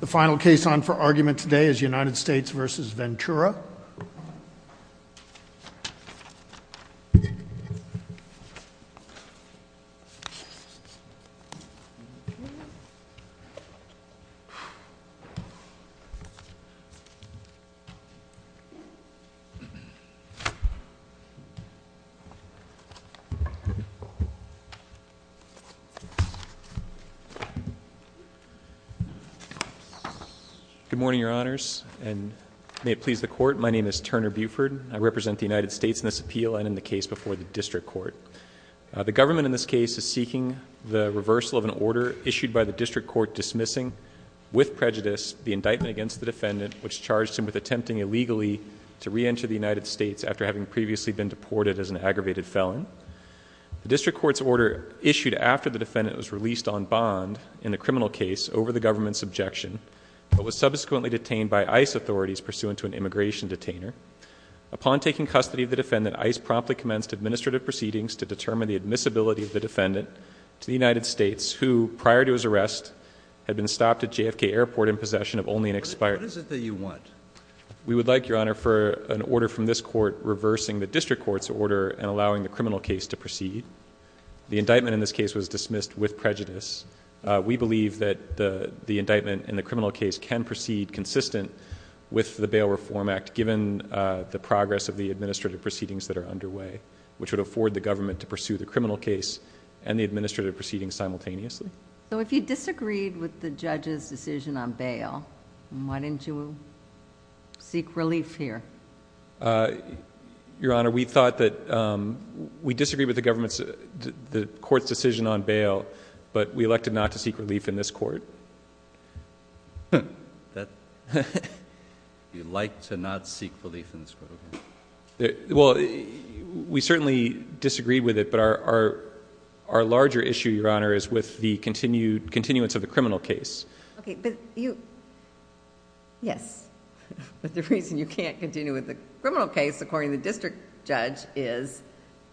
The final case on for argument today is United States v. Ventura. Good morning, Your Honors, and may it please the Court, my name is Turner Buford. I represent the United States in this appeal and in the case before the District Court. The government in this case is seeking the reversal of an order issued by the District Court dismissing, with prejudice, the indictment against the defendant which charged him with attempting illegally to reenter the United States after having previously been deported as an aggravated felon. The District Court's order issued after the defendant was released on bond in the criminal case over the government's objection, but was subsequently detained by ICE authorities pursuant to an immigration detainer. Upon taking custody of the defendant, ICE promptly commenced administrative proceedings to determine the admissibility of the defendant to the United States, who, prior to his arrest, had been stopped at JFK Airport in possession of only an expired— What is it that you want? We would like, Your Honor, for an order from this Court reversing the District Court's order and allowing the criminal case to proceed. The indictment in this case was dismissed with prejudice. We believe that the indictment in the criminal case can proceed consistent with the Bail Reform Act given the progress of the administrative proceedings that are underway, which would afford the government to pursue the criminal case and the administrative proceedings simultaneously. So if you disagreed with the judge's decision on bail, why didn't you seek relief here? Your Honor, we thought that we disagreed with the court's decision on bail, but we elected not to seek relief in this court. You'd like to not seek relief in this court, okay. Well, we certainly disagreed with it, but our larger issue, Your Honor, is with the continuance of the criminal case. Okay, but you... yes. But the reason you can't continue with the criminal case, according to the district judge, is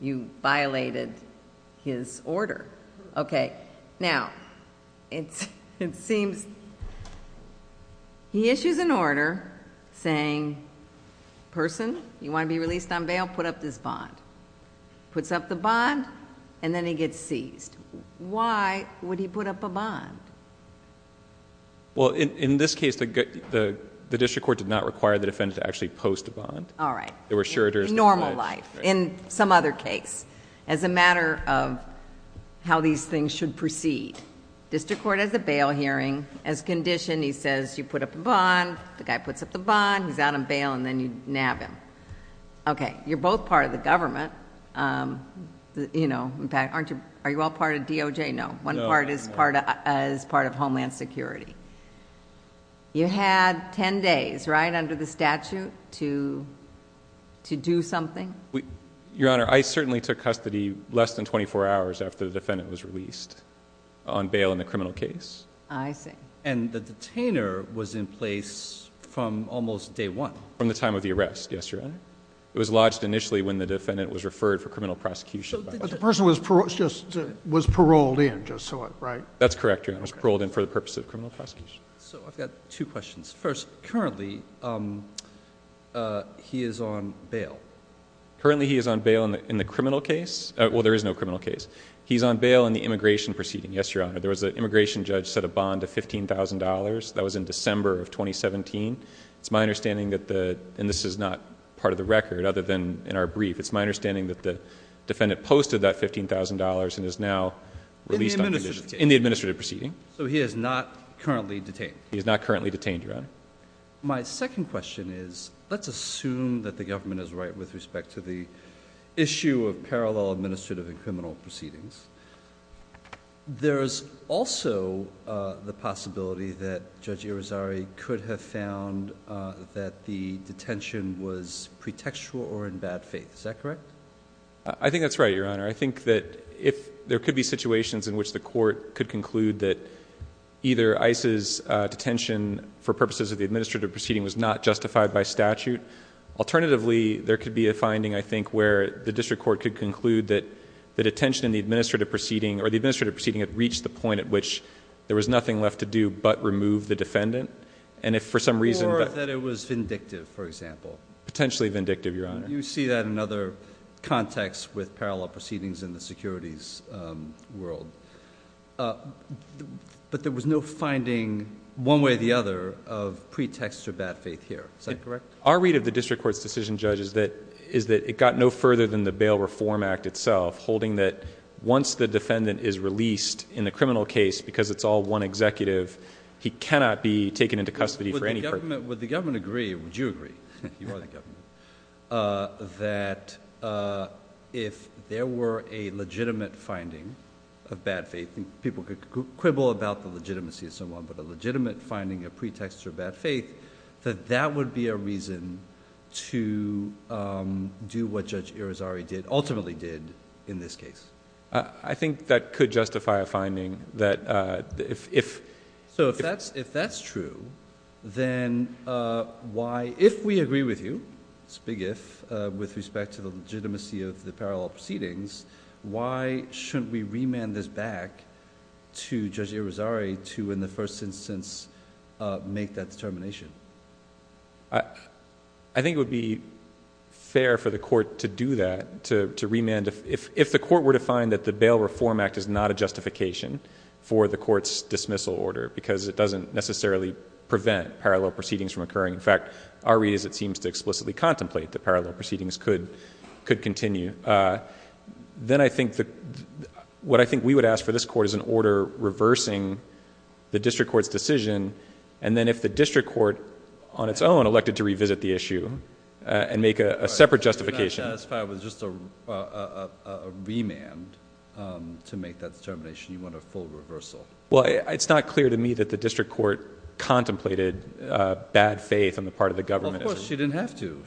you violated his order. Okay. Now, it seems he issues an order saying, person, you want to be released on bail, put up this bond. Puts up the bond, and then he gets seized. Why would he put up a bond? Well, in this case, the district court did not require the defendant to actually post a bond. All right. In normal life. In normal life. In some other case. As a matter of how these things should proceed. District court has a bail hearing. As condition, he says, you put up a bond. The guy puts up the bond. He's out on bail, and then you nab him. Okay. You're both part of the government. In fact, are you all part of DOJ? No. One part is part of Homeland Security. You had ten days, right, under the statute to do something? Your Honor, I certainly took custody less than 24 hours after the defendant was released on bail in the criminal case. I see. And the detainer was in place from almost day one. From the time of the arrest, yes, Your Honor. It was lodged initially when the defendant was referred for criminal prosecution. But the person was paroled in, just so I'm right? That's correct, Your Honor. Paroled in for the purpose of criminal prosecution. So I've got two questions. First, currently he is on bail. Currently he is on bail in the criminal case. Well, there is no criminal case. He's on bail in the immigration proceeding, yes, Your Honor. There was an immigration judge set a bond of $15,000. That was in December of 2017. It's my understanding that the, and this is not part of the record other than in our brief, it's my understanding that the defendant posted that $15,000 and is now released on condition. In the administrative proceeding. So he is not currently detained. He is not currently detained, Your Honor. My second question is, let's assume that the government is right with respect to the issue of parallel administrative and criminal proceedings. There is also the possibility that Judge Irizarry could have found that the detention was pretextual or in bad faith. Is that correct? I think that's right, Your Honor. I think that if there could be situations in which the court could conclude that either ICE's detention for purposes of the administrative proceeding was not justified by statute. Alternatively, there could be a finding, I think, where the district court could conclude that the detention in the administrative proceeding or the administrative proceeding had reached the point at which there was nothing left to do but remove the defendant. And if for some reason. Or that it was vindictive, for example. Potentially vindictive, Your Honor. You see that in other contexts with parallel proceedings in the securities world. But there was no finding, one way or the other, of pretext or bad faith here. Is that correct? Our read of the district court's decision, Judge, is that it got no further than the Bail Reform Act itself, holding that once the defendant is released in the criminal case, because it's all one executive, he cannot be taken into custody for any purpose. Would the government agree? Would you agree? You are the government. That if there were a legitimate finding of bad faith, people could quibble about the legitimacy of someone, but a legitimate finding, a pretext for bad faith, that that would be a reason to do what Judge Irizarry did, ultimately did, in this case? I think that could justify a finding that if. If that's true, then if we agree with you, it's a big if, with respect to the legitimacy of the parallel proceedings, why shouldn't we remand this back to Judge Irizarry to, in the first instance, make that determination? I think it would be fair for the court to do that, to remand. If the court were to find that the Bail Reform Act is not a justification for the court's dismissal order, because it doesn't necessarily prevent parallel proceedings from occurring. In fact, our reason seems to explicitly contemplate that parallel proceedings could continue, then I think what I think we would ask for this court is an order reversing the district court's decision, and then if the district court, on its own, elected to revisit the issue and make a separate justification... You're not satisfied with just a remand to make that determination? You want a full reversal? Well, it's not clear to me that the district court contemplated bad faith on the part of the government. Of course, she didn't have to.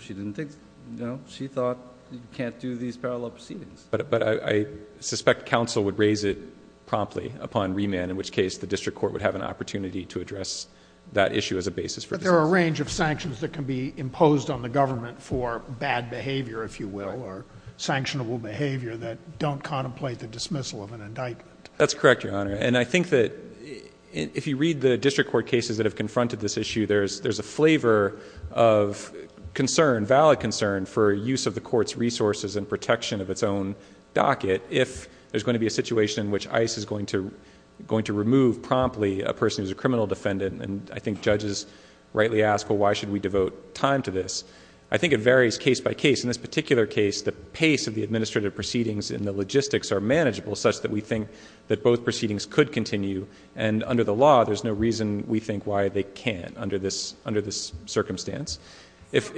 She thought you can't do these parallel proceedings. But I suspect counsel would raise it promptly upon remand, in which case the district court would have an opportunity to address that issue as a basis for... But there are a range of sanctions that can be imposed on the government for bad behavior, if you will, or sanctionable behavior that don't contemplate the dismissal of an indictment. That's correct, Your Honor. And I think that if you read the district court cases that have confronted this issue, there's a flavor of concern, valid concern, for use of the court's resources and protection of its own docket if there's going to be a situation in which ICE is going to remove promptly a person who's a criminal defendant. And I think judges rightly ask, well, why should we devote time to this? I think it varies case by case. In this particular case, the pace of the administrative proceedings and the fact that both proceedings could continue, and under the law, there's no reason we think why they can't under this circumstance. If...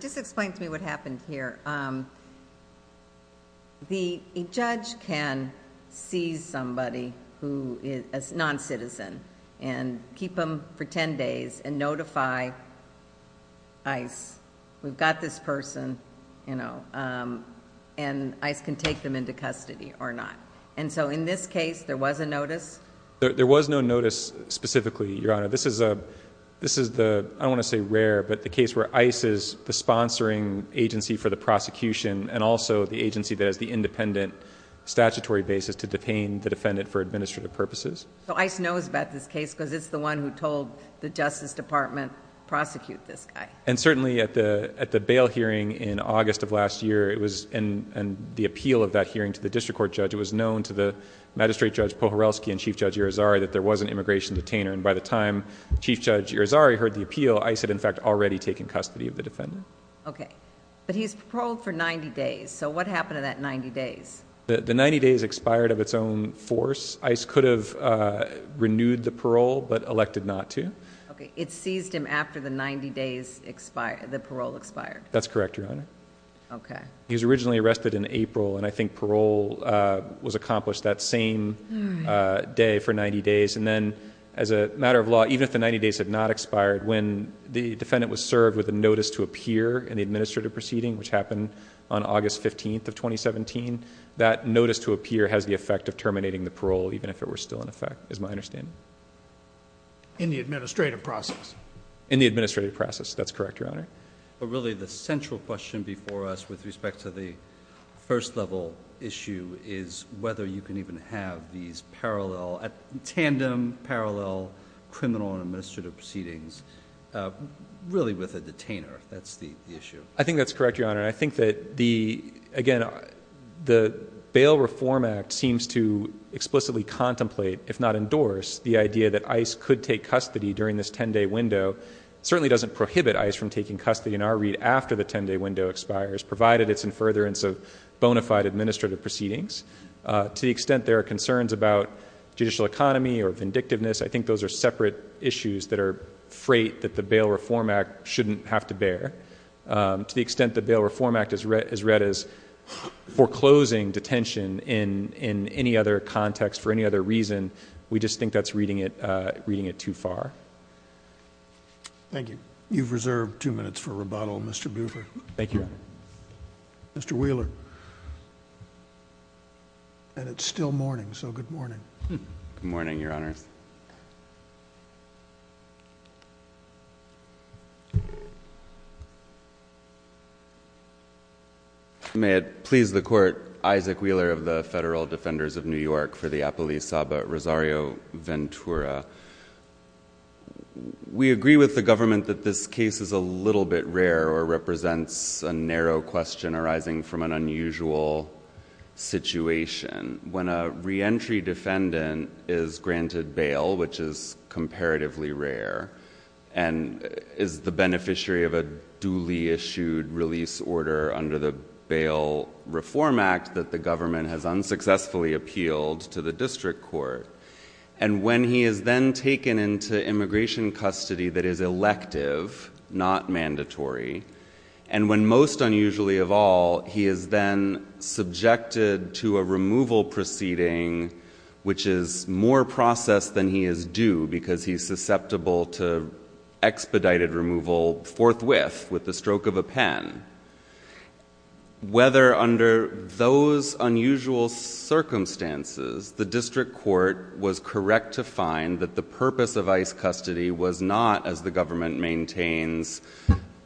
Just explain to me what happened here. The judge can seize somebody who is a non-citizen and keep them for ten days and notify ICE, we've got this person, and ICE can take them into custody or not. And so in this case, there was a notice? There was no notice specifically, Your Honor. This is the, I don't want to say rare, but the case where ICE is the sponsoring agency for the prosecution and also the agency that has the independent statutory basis to detain the defendant for administrative purposes. So ICE knows about this case because it's the one who told the Justice Department, prosecute this guy. And certainly at the bail hearing in August of last year, it was... and the agency was known to the Magistrate Judge Pohorelsky and Chief Judge Irizarry that there was an immigration detainer, and by the time Chief Judge Irizarry heard the appeal, ICE had in fact already taken custody of the defendant. Okay. But he's paroled for ninety days. So what happened to that ninety days? The ninety days expired of its own force. ICE could have renewed the parole, but elected not to. Okay. It seized him after the ninety days expired, the parole expired. That's correct, Your Honor. Okay. He was originally arrested in April, and I think parole was accomplished that same day for ninety days. And then as a matter of law, even if the ninety days had not expired, when the defendant was served with a notice to appear in the administrative proceeding, which happened on August 15th of 2017, that notice to appear has the effect of terminating the parole, even if it were still in effect, is my understanding. In the administrative process. In the administrative process. That's correct, Your Honor. But really the central question before us with respect to the first level issue is whether you can even have these parallel, tandem parallel criminal and administrative proceedings, really with a detainer. That's the issue. I think that's correct, Your Honor. I think that the, again, the Bail Reform Act seems to explicitly contemplate, if not endorse, the idea that ICE could take custody during this ten-day window certainly doesn't prohibit ICE from taking custody, in our read, after the ten-day window expires, provided it's in furtherance of bona fide administrative proceedings. To the extent there are concerns about judicial economy or vindictiveness, I think those are separate issues that are freight that the Bail Reform Act shouldn't have to bear. To the extent the Bail Reform Act is read as foreclosing detention in any other context for any other reason, we just think that's reading it too far. Thank you. You've reserved two minutes for rebuttal, Mr. Buford. Thank you, Your Honor. Mr. Wheeler. It's still morning, so good morning. Good morning, Your Honors. May it please the Court, Isaac Wheeler of the Federal Defenders of New York for the Appellee Saba Rosario Ventura. We agree with the government that this case is a little bit rare or represents a narrow question arising from an unusual situation. When a reentry defendant is granted bail, which is comparatively rare, and is the beneficiary of a duly issued release order under the Bail Reform Act that the government has unsuccessfully appealed to the district court, and when he is then taken into immigration custody that is elective, not mandatory, and when, most unusually of all, he is then subjected to a removal proceeding which is more processed than he is due because he's susceptible to expedited removal forthwith with the stroke of a pen. Whether under those unusual circumstances the district court was correct to find that the purpose of ICE custody was not, as the government maintains,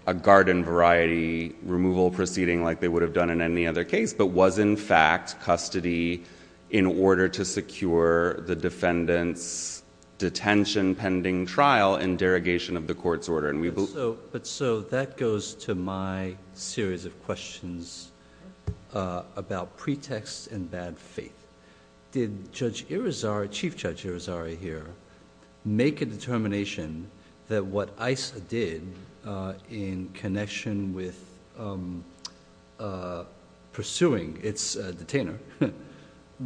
a garden variety removal proceeding like they would have done in any other case, but was in fact custody in order to secure the defendant's detention pending trial in derogation of the court's order. That goes to my series of questions about pretexts and bad faith. Did Chief Judge Irizarry here make a determination that what ICE did in connection with pursuing its detainer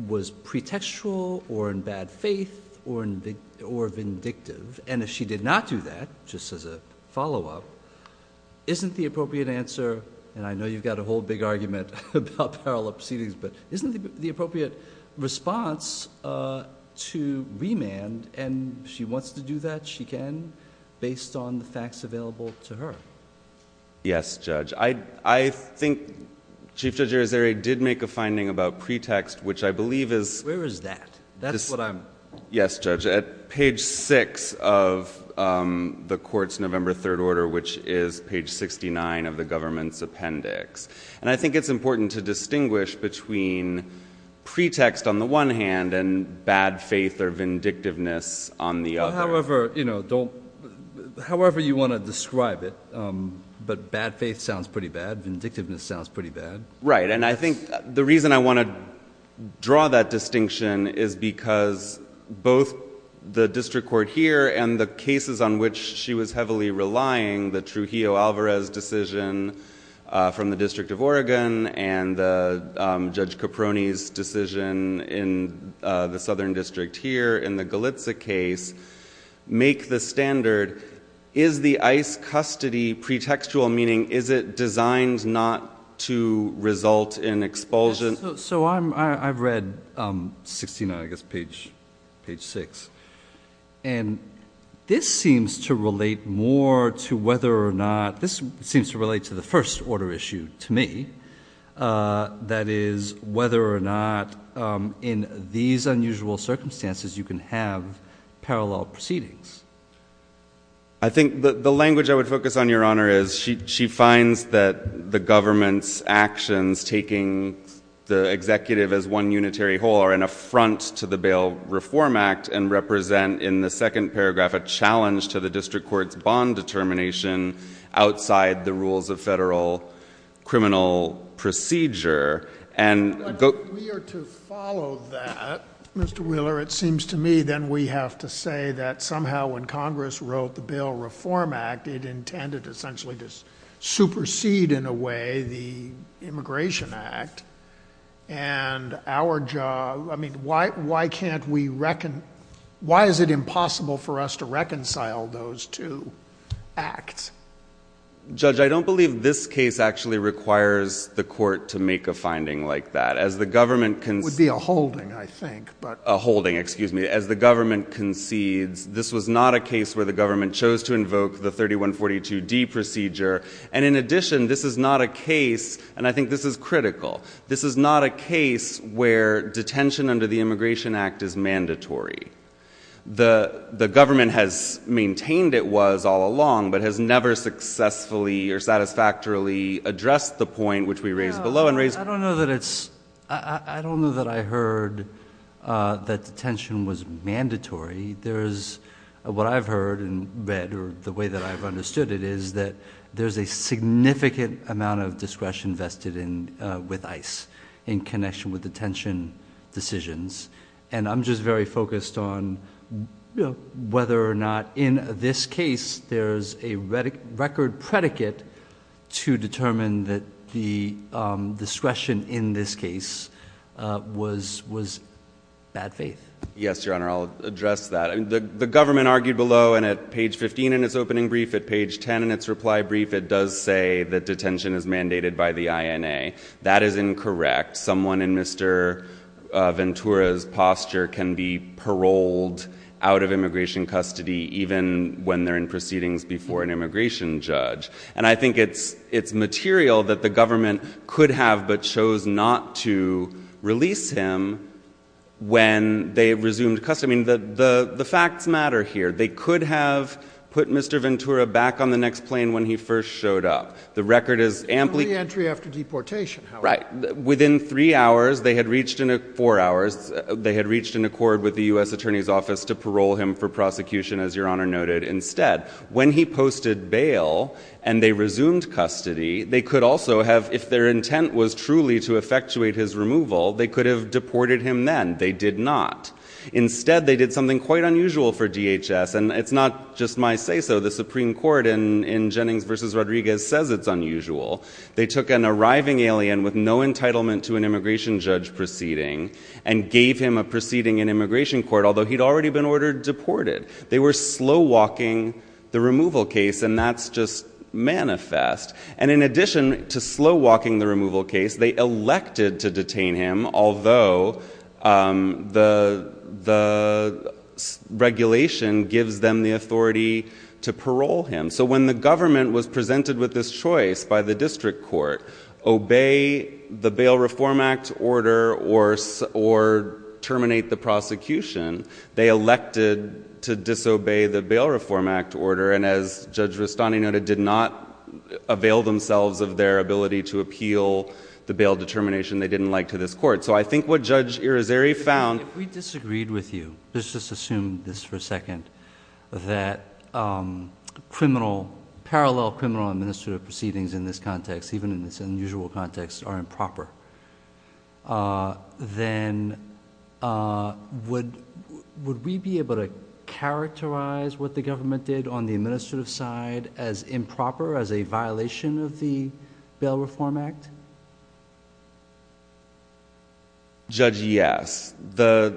was pretextual or in bad faith or vindictive, and if she did not do that, just as a follow-up, isn't the appropriate answer, and I know you've got a whole big argument about parallel proceedings, but isn't the appropriate response to remand, and if she wants to do that, she can, based on the facts available to her? Yes, Judge. I think Chief Judge Irizarry did make a finding about pretext, which I believe is... Where is that? That's what I'm... Yes, Judge, at page 6 of the court's November 3rd order, which is page 69 of the government's appendix, and I think it's important to distinguish between pretext on the one hand and bad faith or vindictiveness on the other. However you want to describe it, but bad faith sounds pretty bad, vindictiveness sounds pretty bad. Right, and I think the reason I want to draw that distinction is because both the district court here and the cases on which she was heavily relying, the Trujillo-Alvarez decision from the District of Oregon and Judge Caproni's decision in the Southern District here in the Galitza case, make the standard, is the ICE custody pretextual, meaning is it designed not to result in expulsion? So I've read 69, I guess page 6, and this seems to relate more to whether or not... this seems to relate to the first order issue to me, that is whether or not in these unusual circumstances you can have parallel proceedings. I think the language I would focus on, Your Honor, is she finds that the government's actions, taking the executive as one unitary whole, are an affront to the Bail Reform Act and represent in the second paragraph a challenge to the district court's bond determination outside the rules of federal criminal procedure. But if we are to follow that, Mr. Wheeler, it seems to me then we have to say that somehow when Congress wrote the Bail Reform Act, it intended essentially to supersede in a way the Immigration Act, and our job... I mean, why can't we... why is it impossible for us to reconcile those two acts? Judge, I don't believe this case actually requires the court to make a finding like that. As the government... It would be a holding, I think, but... A holding, excuse me. As the government concedes... This was not a case where the government chose to invoke the 3142D procedure. And in addition, this is not a case... And I think this is critical. This is not a case where detention under the Immigration Act is mandatory. The government has maintained it was all along but has never successfully or satisfactorily addressed the point which we raised below and raised... I don't know that it's... I don't know that I heard that detention was mandatory. There's... What I've heard and read or the way that I've understood it is that there's a significant amount of discretion vested in... with ICE in connection with detention decisions. And I'm just very focused on whether or not in this case there's a record predicate to determine that the discretion in this case was bad faith. Yes, Your Honor, I'll address that. The government argued below and at page 15 in its opening brief, at page 10 in its reply brief, it does say that detention is mandated by the INA. That is incorrect. Someone in Mr. Ventura's posture can be paroled out of immigration custody even when they're in proceedings before an immigration judge. And I think it's material that the government could have but chose not to release him when they resumed custody. I mean, the facts matter here. They could have put Mr. Ventura back on the next plane when he first showed up. The record is amply... Only entry after deportation, however. Right. Within three hours, they had reached... four hours. They had reached an accord with the U.S. Attorney's Office to parole him for prosecution, as Your Honor noted, instead. When he posted bail and they resumed custody, they could also have, if their intent was truly to effectuate his removal, they could have deported him then. They did not. Instead, they did something quite unusual for DHS, and it's not just my say-so. The Supreme Court in Jennings v. Rodriguez says it's unusual. They took an arriving alien with no entitlement to an immigration judge proceeding and gave him a proceeding in immigration court, although he'd already been ordered deported. They were slow-walking the removal case, and that's just manifest. And in addition to slow-walking the removal case, they elected to detain him, although the regulation gives them the authority to parole him. So when the government was presented with this choice by the district court, obey the Bail Reform Act order or terminate the prosecution, they elected to disobey the Bail Reform Act order, and as Judge Rustani noted, did not avail themselves of their ability to appeal the bail determination they didn't like to this court. So I think what Judge Irizarry found— If we disagreed with you, let's just assume this for a second, that parallel criminal administrative proceedings in this context, even in this unusual context, are improper, then would we be able to characterize what the government did on the administrative side as improper, as a violation of the Bail Reform Act? Judge, yes. I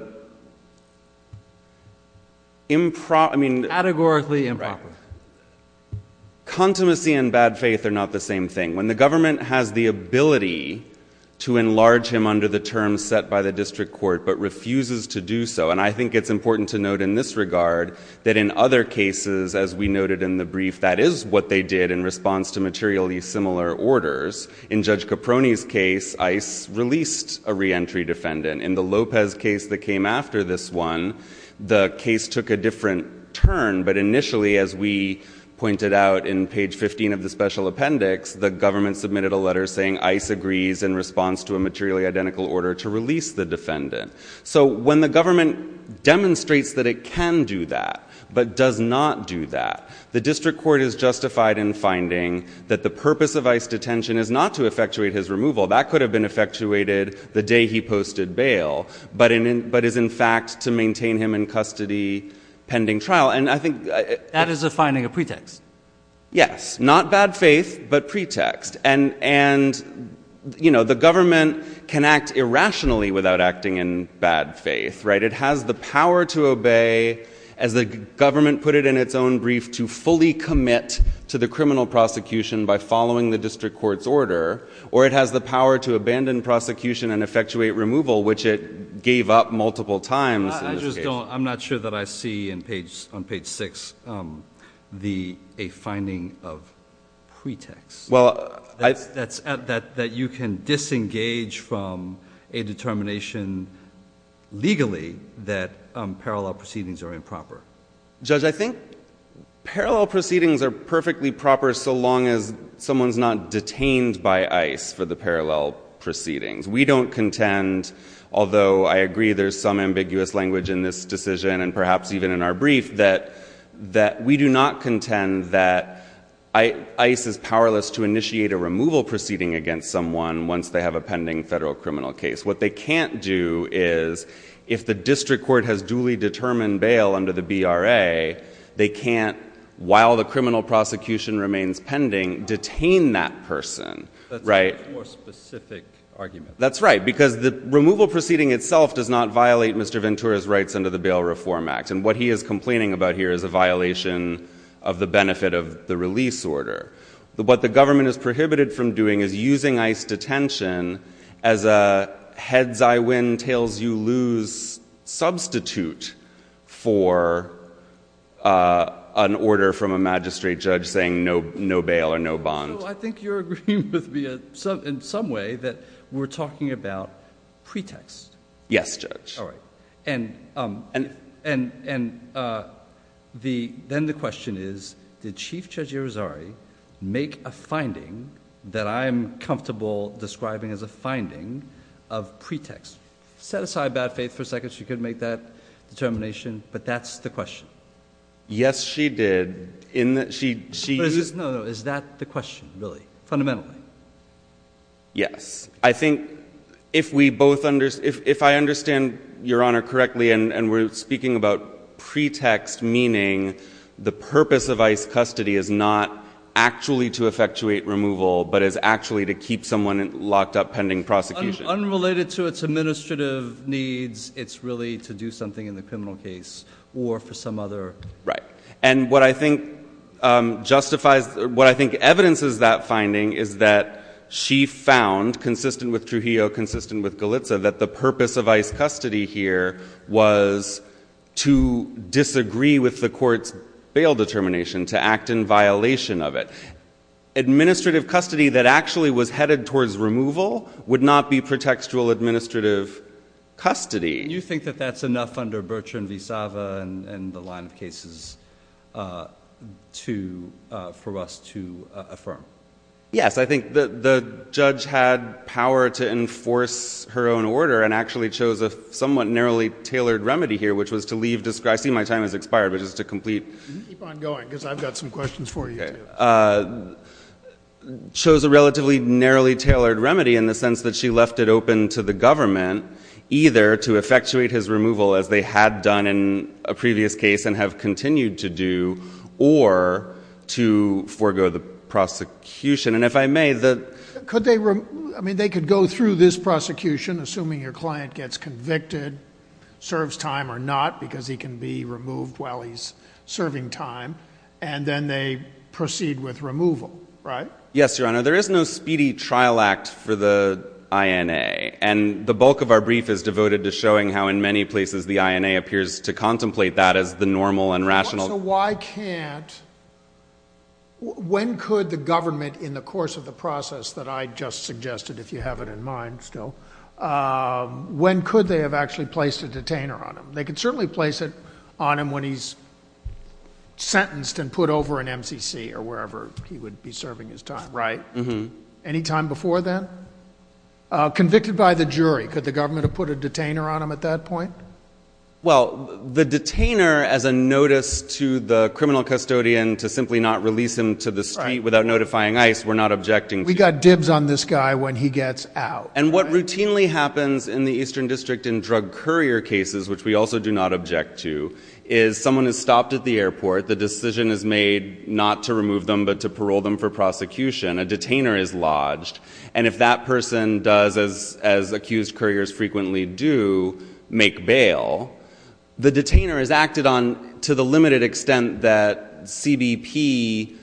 mean— Categorically improper. Right. Contimacy and bad faith are not the same thing. When the government has the ability to enlarge him under the terms set by the district court, but refuses to do so, and I think it's important to note in this regard, that in other cases, as we noted in the brief, that is what they did in response to materially similar orders. In Judge Caproni's case, ICE released a reentry defendant. In the Lopez case that came after this one, the case took a different turn, but initially, as we pointed out in page 15 of the special appendix, the government submitted a letter saying ICE agrees in response to a materially identical order to release the defendant. So when the government demonstrates that it can do that, but does not do that, the district court is justified in finding that the purpose of ICE detention is not to effectuate his removal. That could have been effectuated the day he posted bail, but is in fact to maintain him in custody pending trial. And I think— That is a finding of pretext. Yes. Not bad faith, but pretext. And, you know, the government can act irrationally without acting in bad faith, right? It has the power to obey, as the government put it in its own brief, to fully commit to the criminal prosecution by following the district court's order, or it has the power to abandon prosecution and effectuate removal, which it gave up multiple times in this case. I'm not sure that I see on page 6 a finding of pretext, that you can disengage from a determination legally that parallel proceedings are improper. Judge, I think parallel proceedings are perfectly proper so long as someone is not detained by ICE for the parallel proceedings. We don't contend, although I agree there's some ambiguous language in this decision and perhaps even in our brief, that we do not contend that ICE is powerless to initiate a removal proceeding against someone once they have a pending federal criminal case. What they can't do is, if the district court has duly determined bail under the BRA, they can't, while the criminal prosecution remains pending, detain that person. That's a much more specific argument. That's right, because the removal proceeding itself does not violate Mr. Ventura's rights under the Bail Reform Act, and what he is complaining about here is a violation of the benefit of the release order. What the government is prohibited from doing is using ICE detention as a heads-I-win, tails-you-lose substitute for an order from a magistrate judge saying no bail or no bond. So I think you're agreeing with me in some way that we're talking about pretext. Yes, Judge. All right. And then the question is, did Chief Judge Irizarry make a finding that I'm comfortable describing as a finding of pretext? Set aside bad faith for a second. She could make that determination, but that's the question. Yes, she did. No, no, is that the question, really, fundamentally? Yes. I think if I understand Your Honor correctly, and we're speaking about pretext, meaning the purpose of ICE custody is not actually to effectuate removal, but is actually to keep someone locked up pending prosecution. Unrelated to its administrative needs, it's really to do something in the criminal case or for some other. Right. And what I think justifies, what I think evidences that finding is that she found, consistent with Trujillo, consistent with Galitza, that the purpose of ICE custody here was to disagree with the court's bail determination, to act in violation of it. Administrative custody that actually was headed towards removal would not be pretextual administrative custody. Do you think that that's enough under Bertrand v. Sava and the line of cases for us to affirm? Yes, I think the judge had power to enforce her own order and actually chose a somewhat narrowly tailored remedy here, which was to leave, I see my time has expired, but just to complete. Keep on going, because I've got some questions for you, too. Chose a relatively narrowly tailored remedy in the sense that she left it open to the government, either to effectuate his removal, as they had done in a previous case and have continued to do, or to forego the prosecution. And if I may, could they, I mean, they could go through this prosecution, assuming your client gets convicted, serves time or not, because he can be removed while he's serving time, and then they proceed with removal, right? Yes, Your Honor, there is no speedy trial act for the INA. And the bulk of our brief is devoted to showing how, in many places, the INA appears to contemplate that as the normal and rational. So why can't, when could the government, in the course of the process that I just suggested, if you have it in mind still, when could they have actually placed a detainer on him? They could certainly place it on him when he's sentenced and put over an MCC or wherever he would be serving his time, right? Any time before then? Convicted by the jury, could the government have put a detainer on him at that point? Well, the detainer, as a notice to the criminal custodian to simply not release him to the street without notifying ICE, we're not objecting to. We got dibs on this guy when he gets out. And what routinely happens in the Eastern District in drug courier cases, which we also do not object to, is someone is stopped at the airport, the decision is made not to remove them but to parole them for prosecution. A detainer is lodged. And if that person does, as accused couriers frequently do, make bail, the detainer is acted on to the limited extent that CBP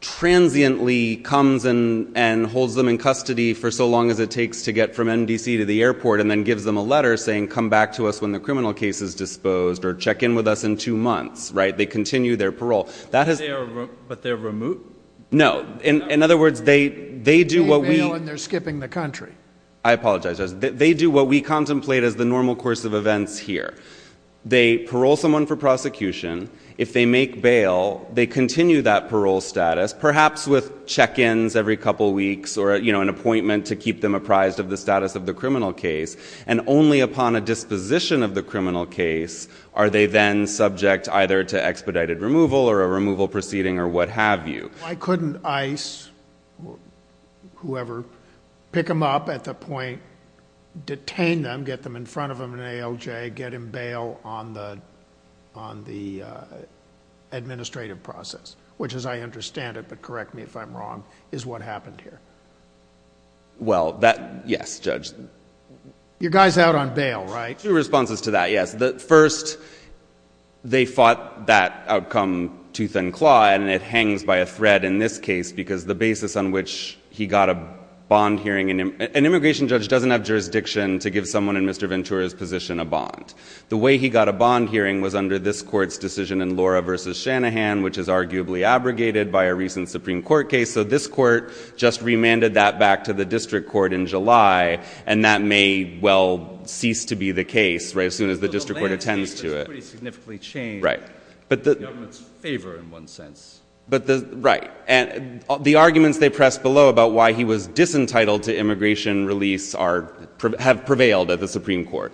transiently comes and holds them in custody for so long as it takes to get from MDC to the airport and then gives them a letter saying, come back to us when the criminal case is disposed or check in with us in two months, right? So they continue their parole. But they're remote? No. In other words, they do what we... They bail and they're skipping the country. I apologize. They do what we contemplate as the normal course of events here. They parole someone for prosecution. If they make bail, they continue that parole status, perhaps with check-ins every couple weeks or an appointment to keep them apprised of the status of the criminal case. And only upon a disposition of the criminal case are they then subject either to expedited removal or a removal proceeding or what have you. Why couldn't ICE, whoever, pick them up at the point, detain them, get them in front of an ALJ, get them bail on the administrative process, which as I understand it, but correct me if I'm wrong, is what happened here? Well, yes, Judge. Your guy's out on bail, right? Two responses to that, yes. First, they fought that outcome tooth and claw, and it hangs by a thread in this case because the basis on which he got a bond hearing... An immigration judge doesn't have jurisdiction to give someone in Mr. Ventura's position a bond. The way he got a bond hearing was under this court's decision in Laura v. Shanahan, which is arguably abrogated by a recent Supreme Court case. So this court just remanded that back to the district court in July, and that may well cease to be the case, right, as soon as the district court attends to it. So the landscape has pretty significantly changed in the government's favor in one sense. Right. And the arguments they pressed below about why he was disentitled to immigration release have prevailed at the Supreme Court.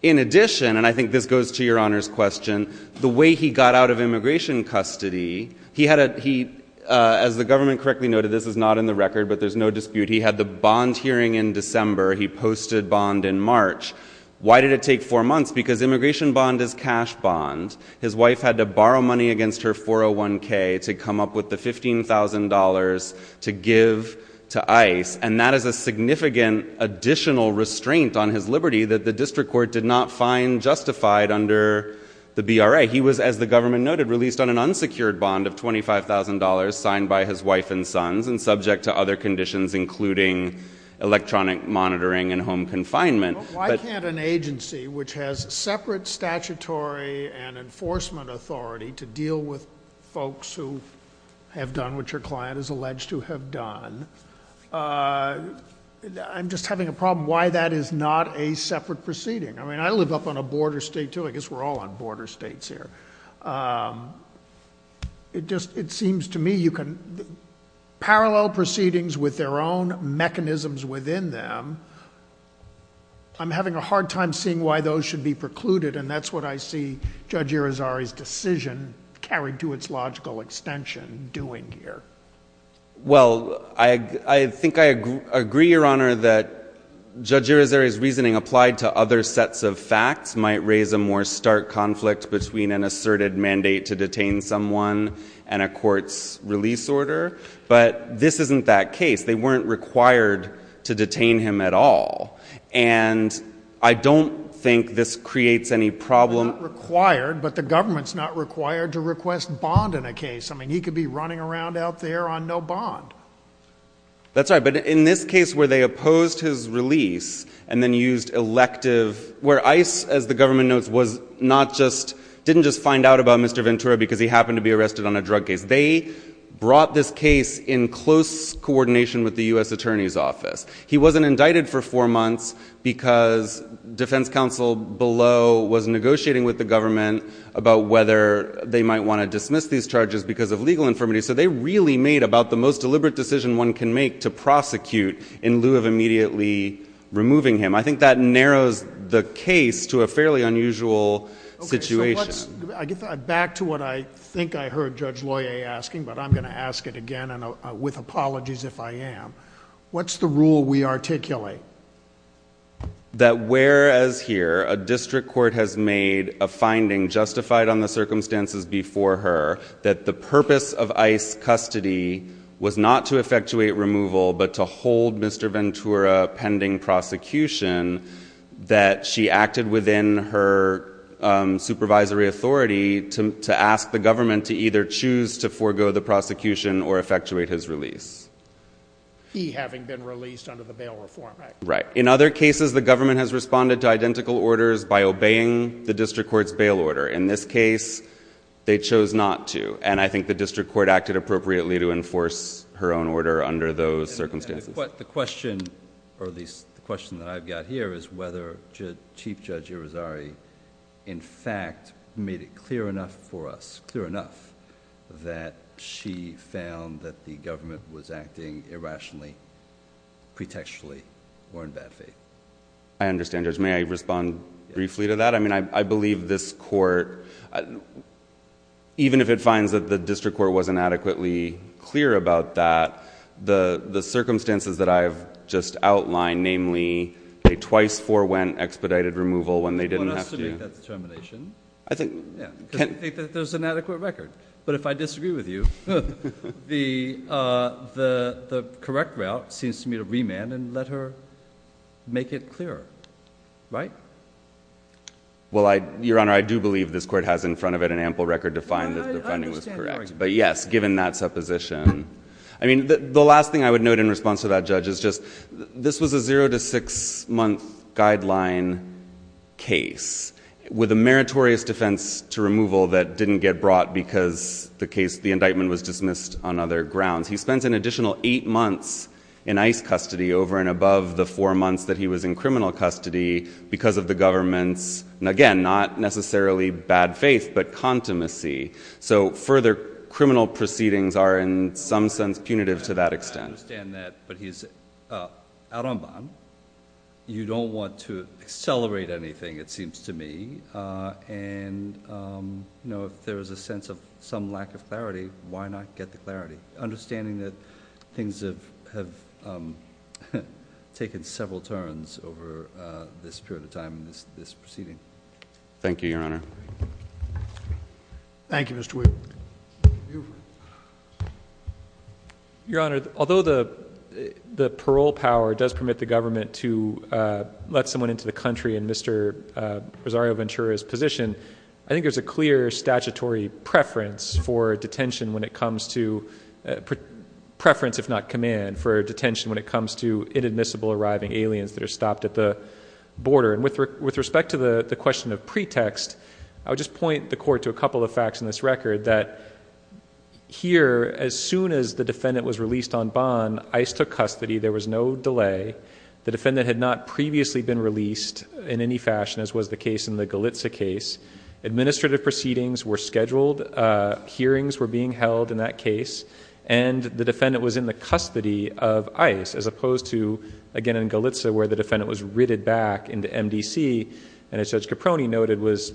In addition, and I think this goes to Your Honor's question, the way he got out of immigration custody, as the government correctly noted, this is not in the record, but there's no dispute, he had the bond hearing in December. He posted bond in March. Why did it take four months? Because immigration bond is cash bond. His wife had to borrow money against her 401K to come up with the $15,000 to give to ICE, and that is a significant additional restraint on his liberty that the district court did not find justified under the BRA. He was, as the government noted, released on an unsecured bond of $25,000 signed by his wife and sons and subject to other conditions, including electronic monitoring and home confinement. Why can't an agency which has separate statutory and enforcement authority to deal with folks who have done what your client is alleged to have done? I'm just having a problem why that is not a separate proceeding. I mean, I live up on a border state, too. I guess we're all on border states here. It seems to me you can parallel proceedings with their own mechanisms within them. I'm having a hard time seeing why those should be precluded, and that's what I see Judge Irizarry's decision carried to its logical extension doing here. Well, I think I agree, Your Honor, that Judge Irizarry's reasoning applied to other sets of facts might raise a more stark conflict between an asserted mandate to detain someone and a court's release order, but this isn't that case. They weren't required to detain him at all, and I don't think this creates any problem. They're not required, but the government's not required to request bond in a case. I mean, he could be running around out there on no bond. That's right, but in this case where they opposed his release and then used elective, where ICE, as the government notes, didn't just find out about Mr. Ventura because he happened to be arrested on a drug case. They brought this case in close coordination with the U.S. Attorney's Office. He wasn't indicted for four months because defense counsel below was negotiating with the government about whether they might want to dismiss these charges because of legal infirmity, so they really made about the most deliberate decision one can make to prosecute in lieu of immediately removing him. I think that narrows the case to a fairly unusual situation. Okay, so back to what I think I heard Judge Loyer asking, but I'm going to ask it again with apologies if I am. What's the rule we articulate? That whereas here a district court has made a finding justified on the circumstances before her that the purpose of ICE custody was not to effectuate removal but to hold Mr. Ventura pending prosecution, that she acted within her supervisory authority to ask the government to either choose to forego the prosecution or effectuate his release. He having been released under the Bail Reform Act. Right. In other cases, the government has responded to identical orders by obeying the district court's bail order. In this case, they chose not to, and I think the district court acted appropriately to enforce her own order under those circumstances. The question, or at least the question that I've got here, is whether Chief Judge Irizarry in fact made it clear enough for us, that she found that the government was acting irrationally, pretextually, or in bad faith. I understand, Judge. May I respond briefly to that? I mean, I believe this court, even if it finds that the district court wasn't adequately clear about that, the circumstances that I've just outlined, namely a twice forewent expedited removal when they didn't have to... You want us to make that determination? I think... Because I think that there's an adequate record. But if I disagree with you, the correct route seems to me to be to remand and let her make it clearer. Right? Well, Your Honor, I do believe this court has in front of it an ample record to find that the finding was correct. I understand your argument. But yes, given that supposition. I mean, the last thing I would note in response to that, Judge, is just this was a zero to six month guideline case with a meritorious defense to removal that didn't get brought because the indictment was dismissed on other grounds. He spends an additional eight months in ICE custody over and above the four months that he was in criminal custody because of the government's, again, not necessarily bad faith, but contumacy. So further criminal proceedings are in some sense punitive to that extent. I understand that. But he's out on bond. You don't want to accelerate anything, it seems to me. And, you know, if there is a sense of some lack of clarity, why not get the clarity? Understanding that things have taken several turns over this period of time in this proceeding. Thank you, Your Honor. Thank you, Mr. Wheaton. Your Honor, although the parole power does permit the government to let someone into the country in Mr. Rosario Ventura's position, I think there's a clear statutory preference for detention when it comes to preference, if not command, for detention when it comes to inadmissible arriving aliens that are stopped at the border. And with respect to the question of pretext, I would just point the Court to a couple of facts in this record that here, as soon as the defendant was released on bond, ICE took custody. There was no delay. The defendant had not previously been released in any fashion, as was the case in the Galitza case. Administrative proceedings were scheduled. Hearings were being held in that case. And the defendant was in the custody of ICE, as opposed to, again, in Galitza where the defendant was ritted back into MDC and, as Judge Caproni noted, was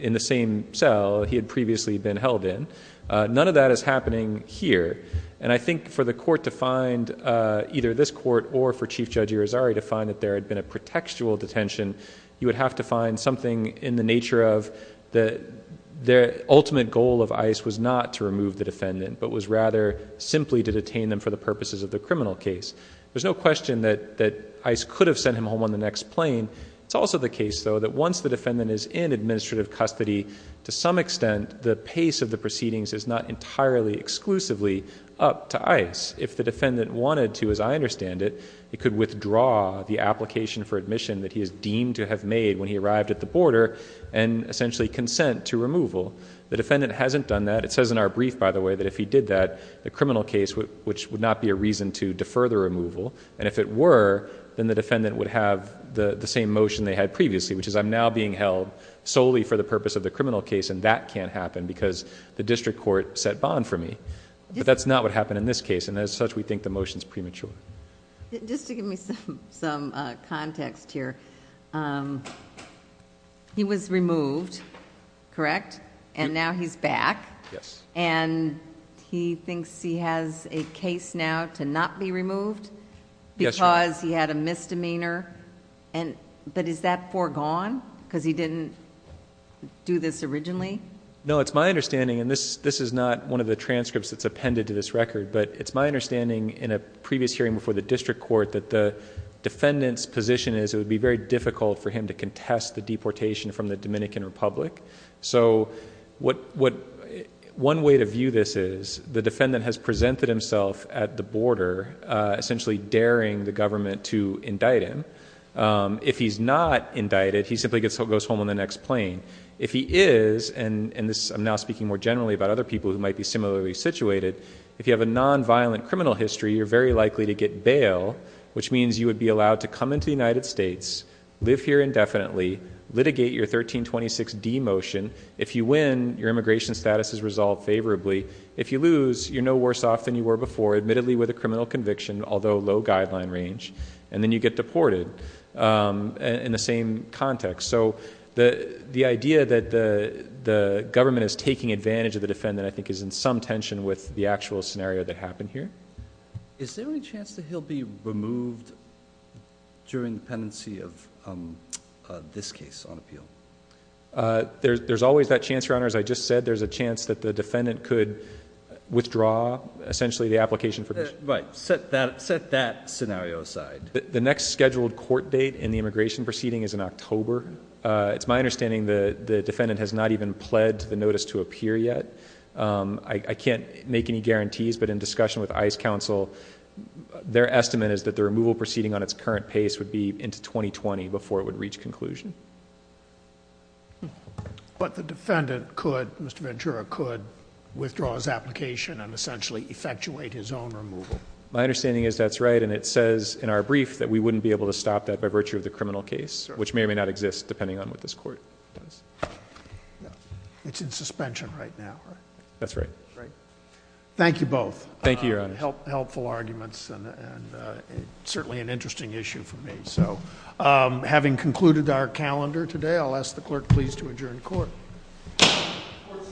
in the same cell he had previously been held in. None of that is happening here. And I think for the Court to find, either this Court or for Chief Judge Rosario, to find that there had been a pretextual detention, you would have to find something in the nature of the ultimate goal of ICE was not to remove the defendant, but was rather simply to detain them for the purposes of the criminal case. There's no question that ICE could have sent him home on the next plane. It's also the case, though, that once the defendant is in administrative custody, to some extent the pace of the proceedings is not entirely exclusively up to ICE. If the defendant wanted to, as I understand it, he could withdraw the application for admission that he is deemed to have made when he arrived at the border and essentially consent to removal. The defendant hasn't done that. It says in our brief, by the way, that if he did that, the criminal case would not be a reason to defer the removal. And if it were, then the defendant would have the same motion they had previously, which is I'm now being held solely for the purpose of the criminal case and that can't happen because the district court set bond for me. But that's not what happened in this case, and as such we think the motion is premature. Just to give me some context here, he was removed, correct? And now he's back. Yes. And he thinks he has a case now to not be removed because he had a misdemeanor. But is that foregone because he didn't do this originally? No, it's my understanding, and this is not one of the transcripts that's appended to this record, but it's my understanding in a previous hearing before the district court that the defendant's position is it would be very difficult for him to contest the deportation from the Dominican Republic. So one way to view this is the defendant has presented himself at the border, essentially daring the government to indict him. If he's not indicted, he simply goes home on the next plane. If he is, and I'm now speaking more generally about other people who might be similarly situated, if you have a nonviolent criminal history, you're very likely to get bail, which means you would be allowed to come into the United States, live here indefinitely, litigate your 1326D motion. If you win, your immigration status is resolved favorably. If you lose, you're no worse off than you were before, admittedly with a criminal conviction, although low guideline range, and then you get deported in the same context. So the idea that the government is taking advantage of the defendant, I think, is in some tension with the actual scenario that happened here. Is there any chance that he'll be removed during the pendency of this case on appeal? There's always that chance, Your Honor. As I just said, there's a chance that the defendant could withdraw, essentially the application for... Right. Set that scenario aside. The next scheduled court date in the immigration proceeding is in October. It's my understanding the defendant has not even pled the notice to appear yet. I can't make any guarantees, but in discussion with ICE counsel, their estimate is that the removal proceeding on its current pace would be into 2020 before it would reach conclusion. But the defendant could, Mr. Ventura, could withdraw his application and essentially effectuate his own removal. My understanding is that's right, and it says in our brief that we wouldn't be able to stop that by virtue of the criminal case, which may or may not exist depending on what this court does. It's in suspension right now, right? That's right. Great. Thank you both. Thank you, Your Honor. Helpful arguments and certainly an interesting issue for me. So having concluded our calendar today, I'll ask the clerk please to adjourn court. Court is adjourned.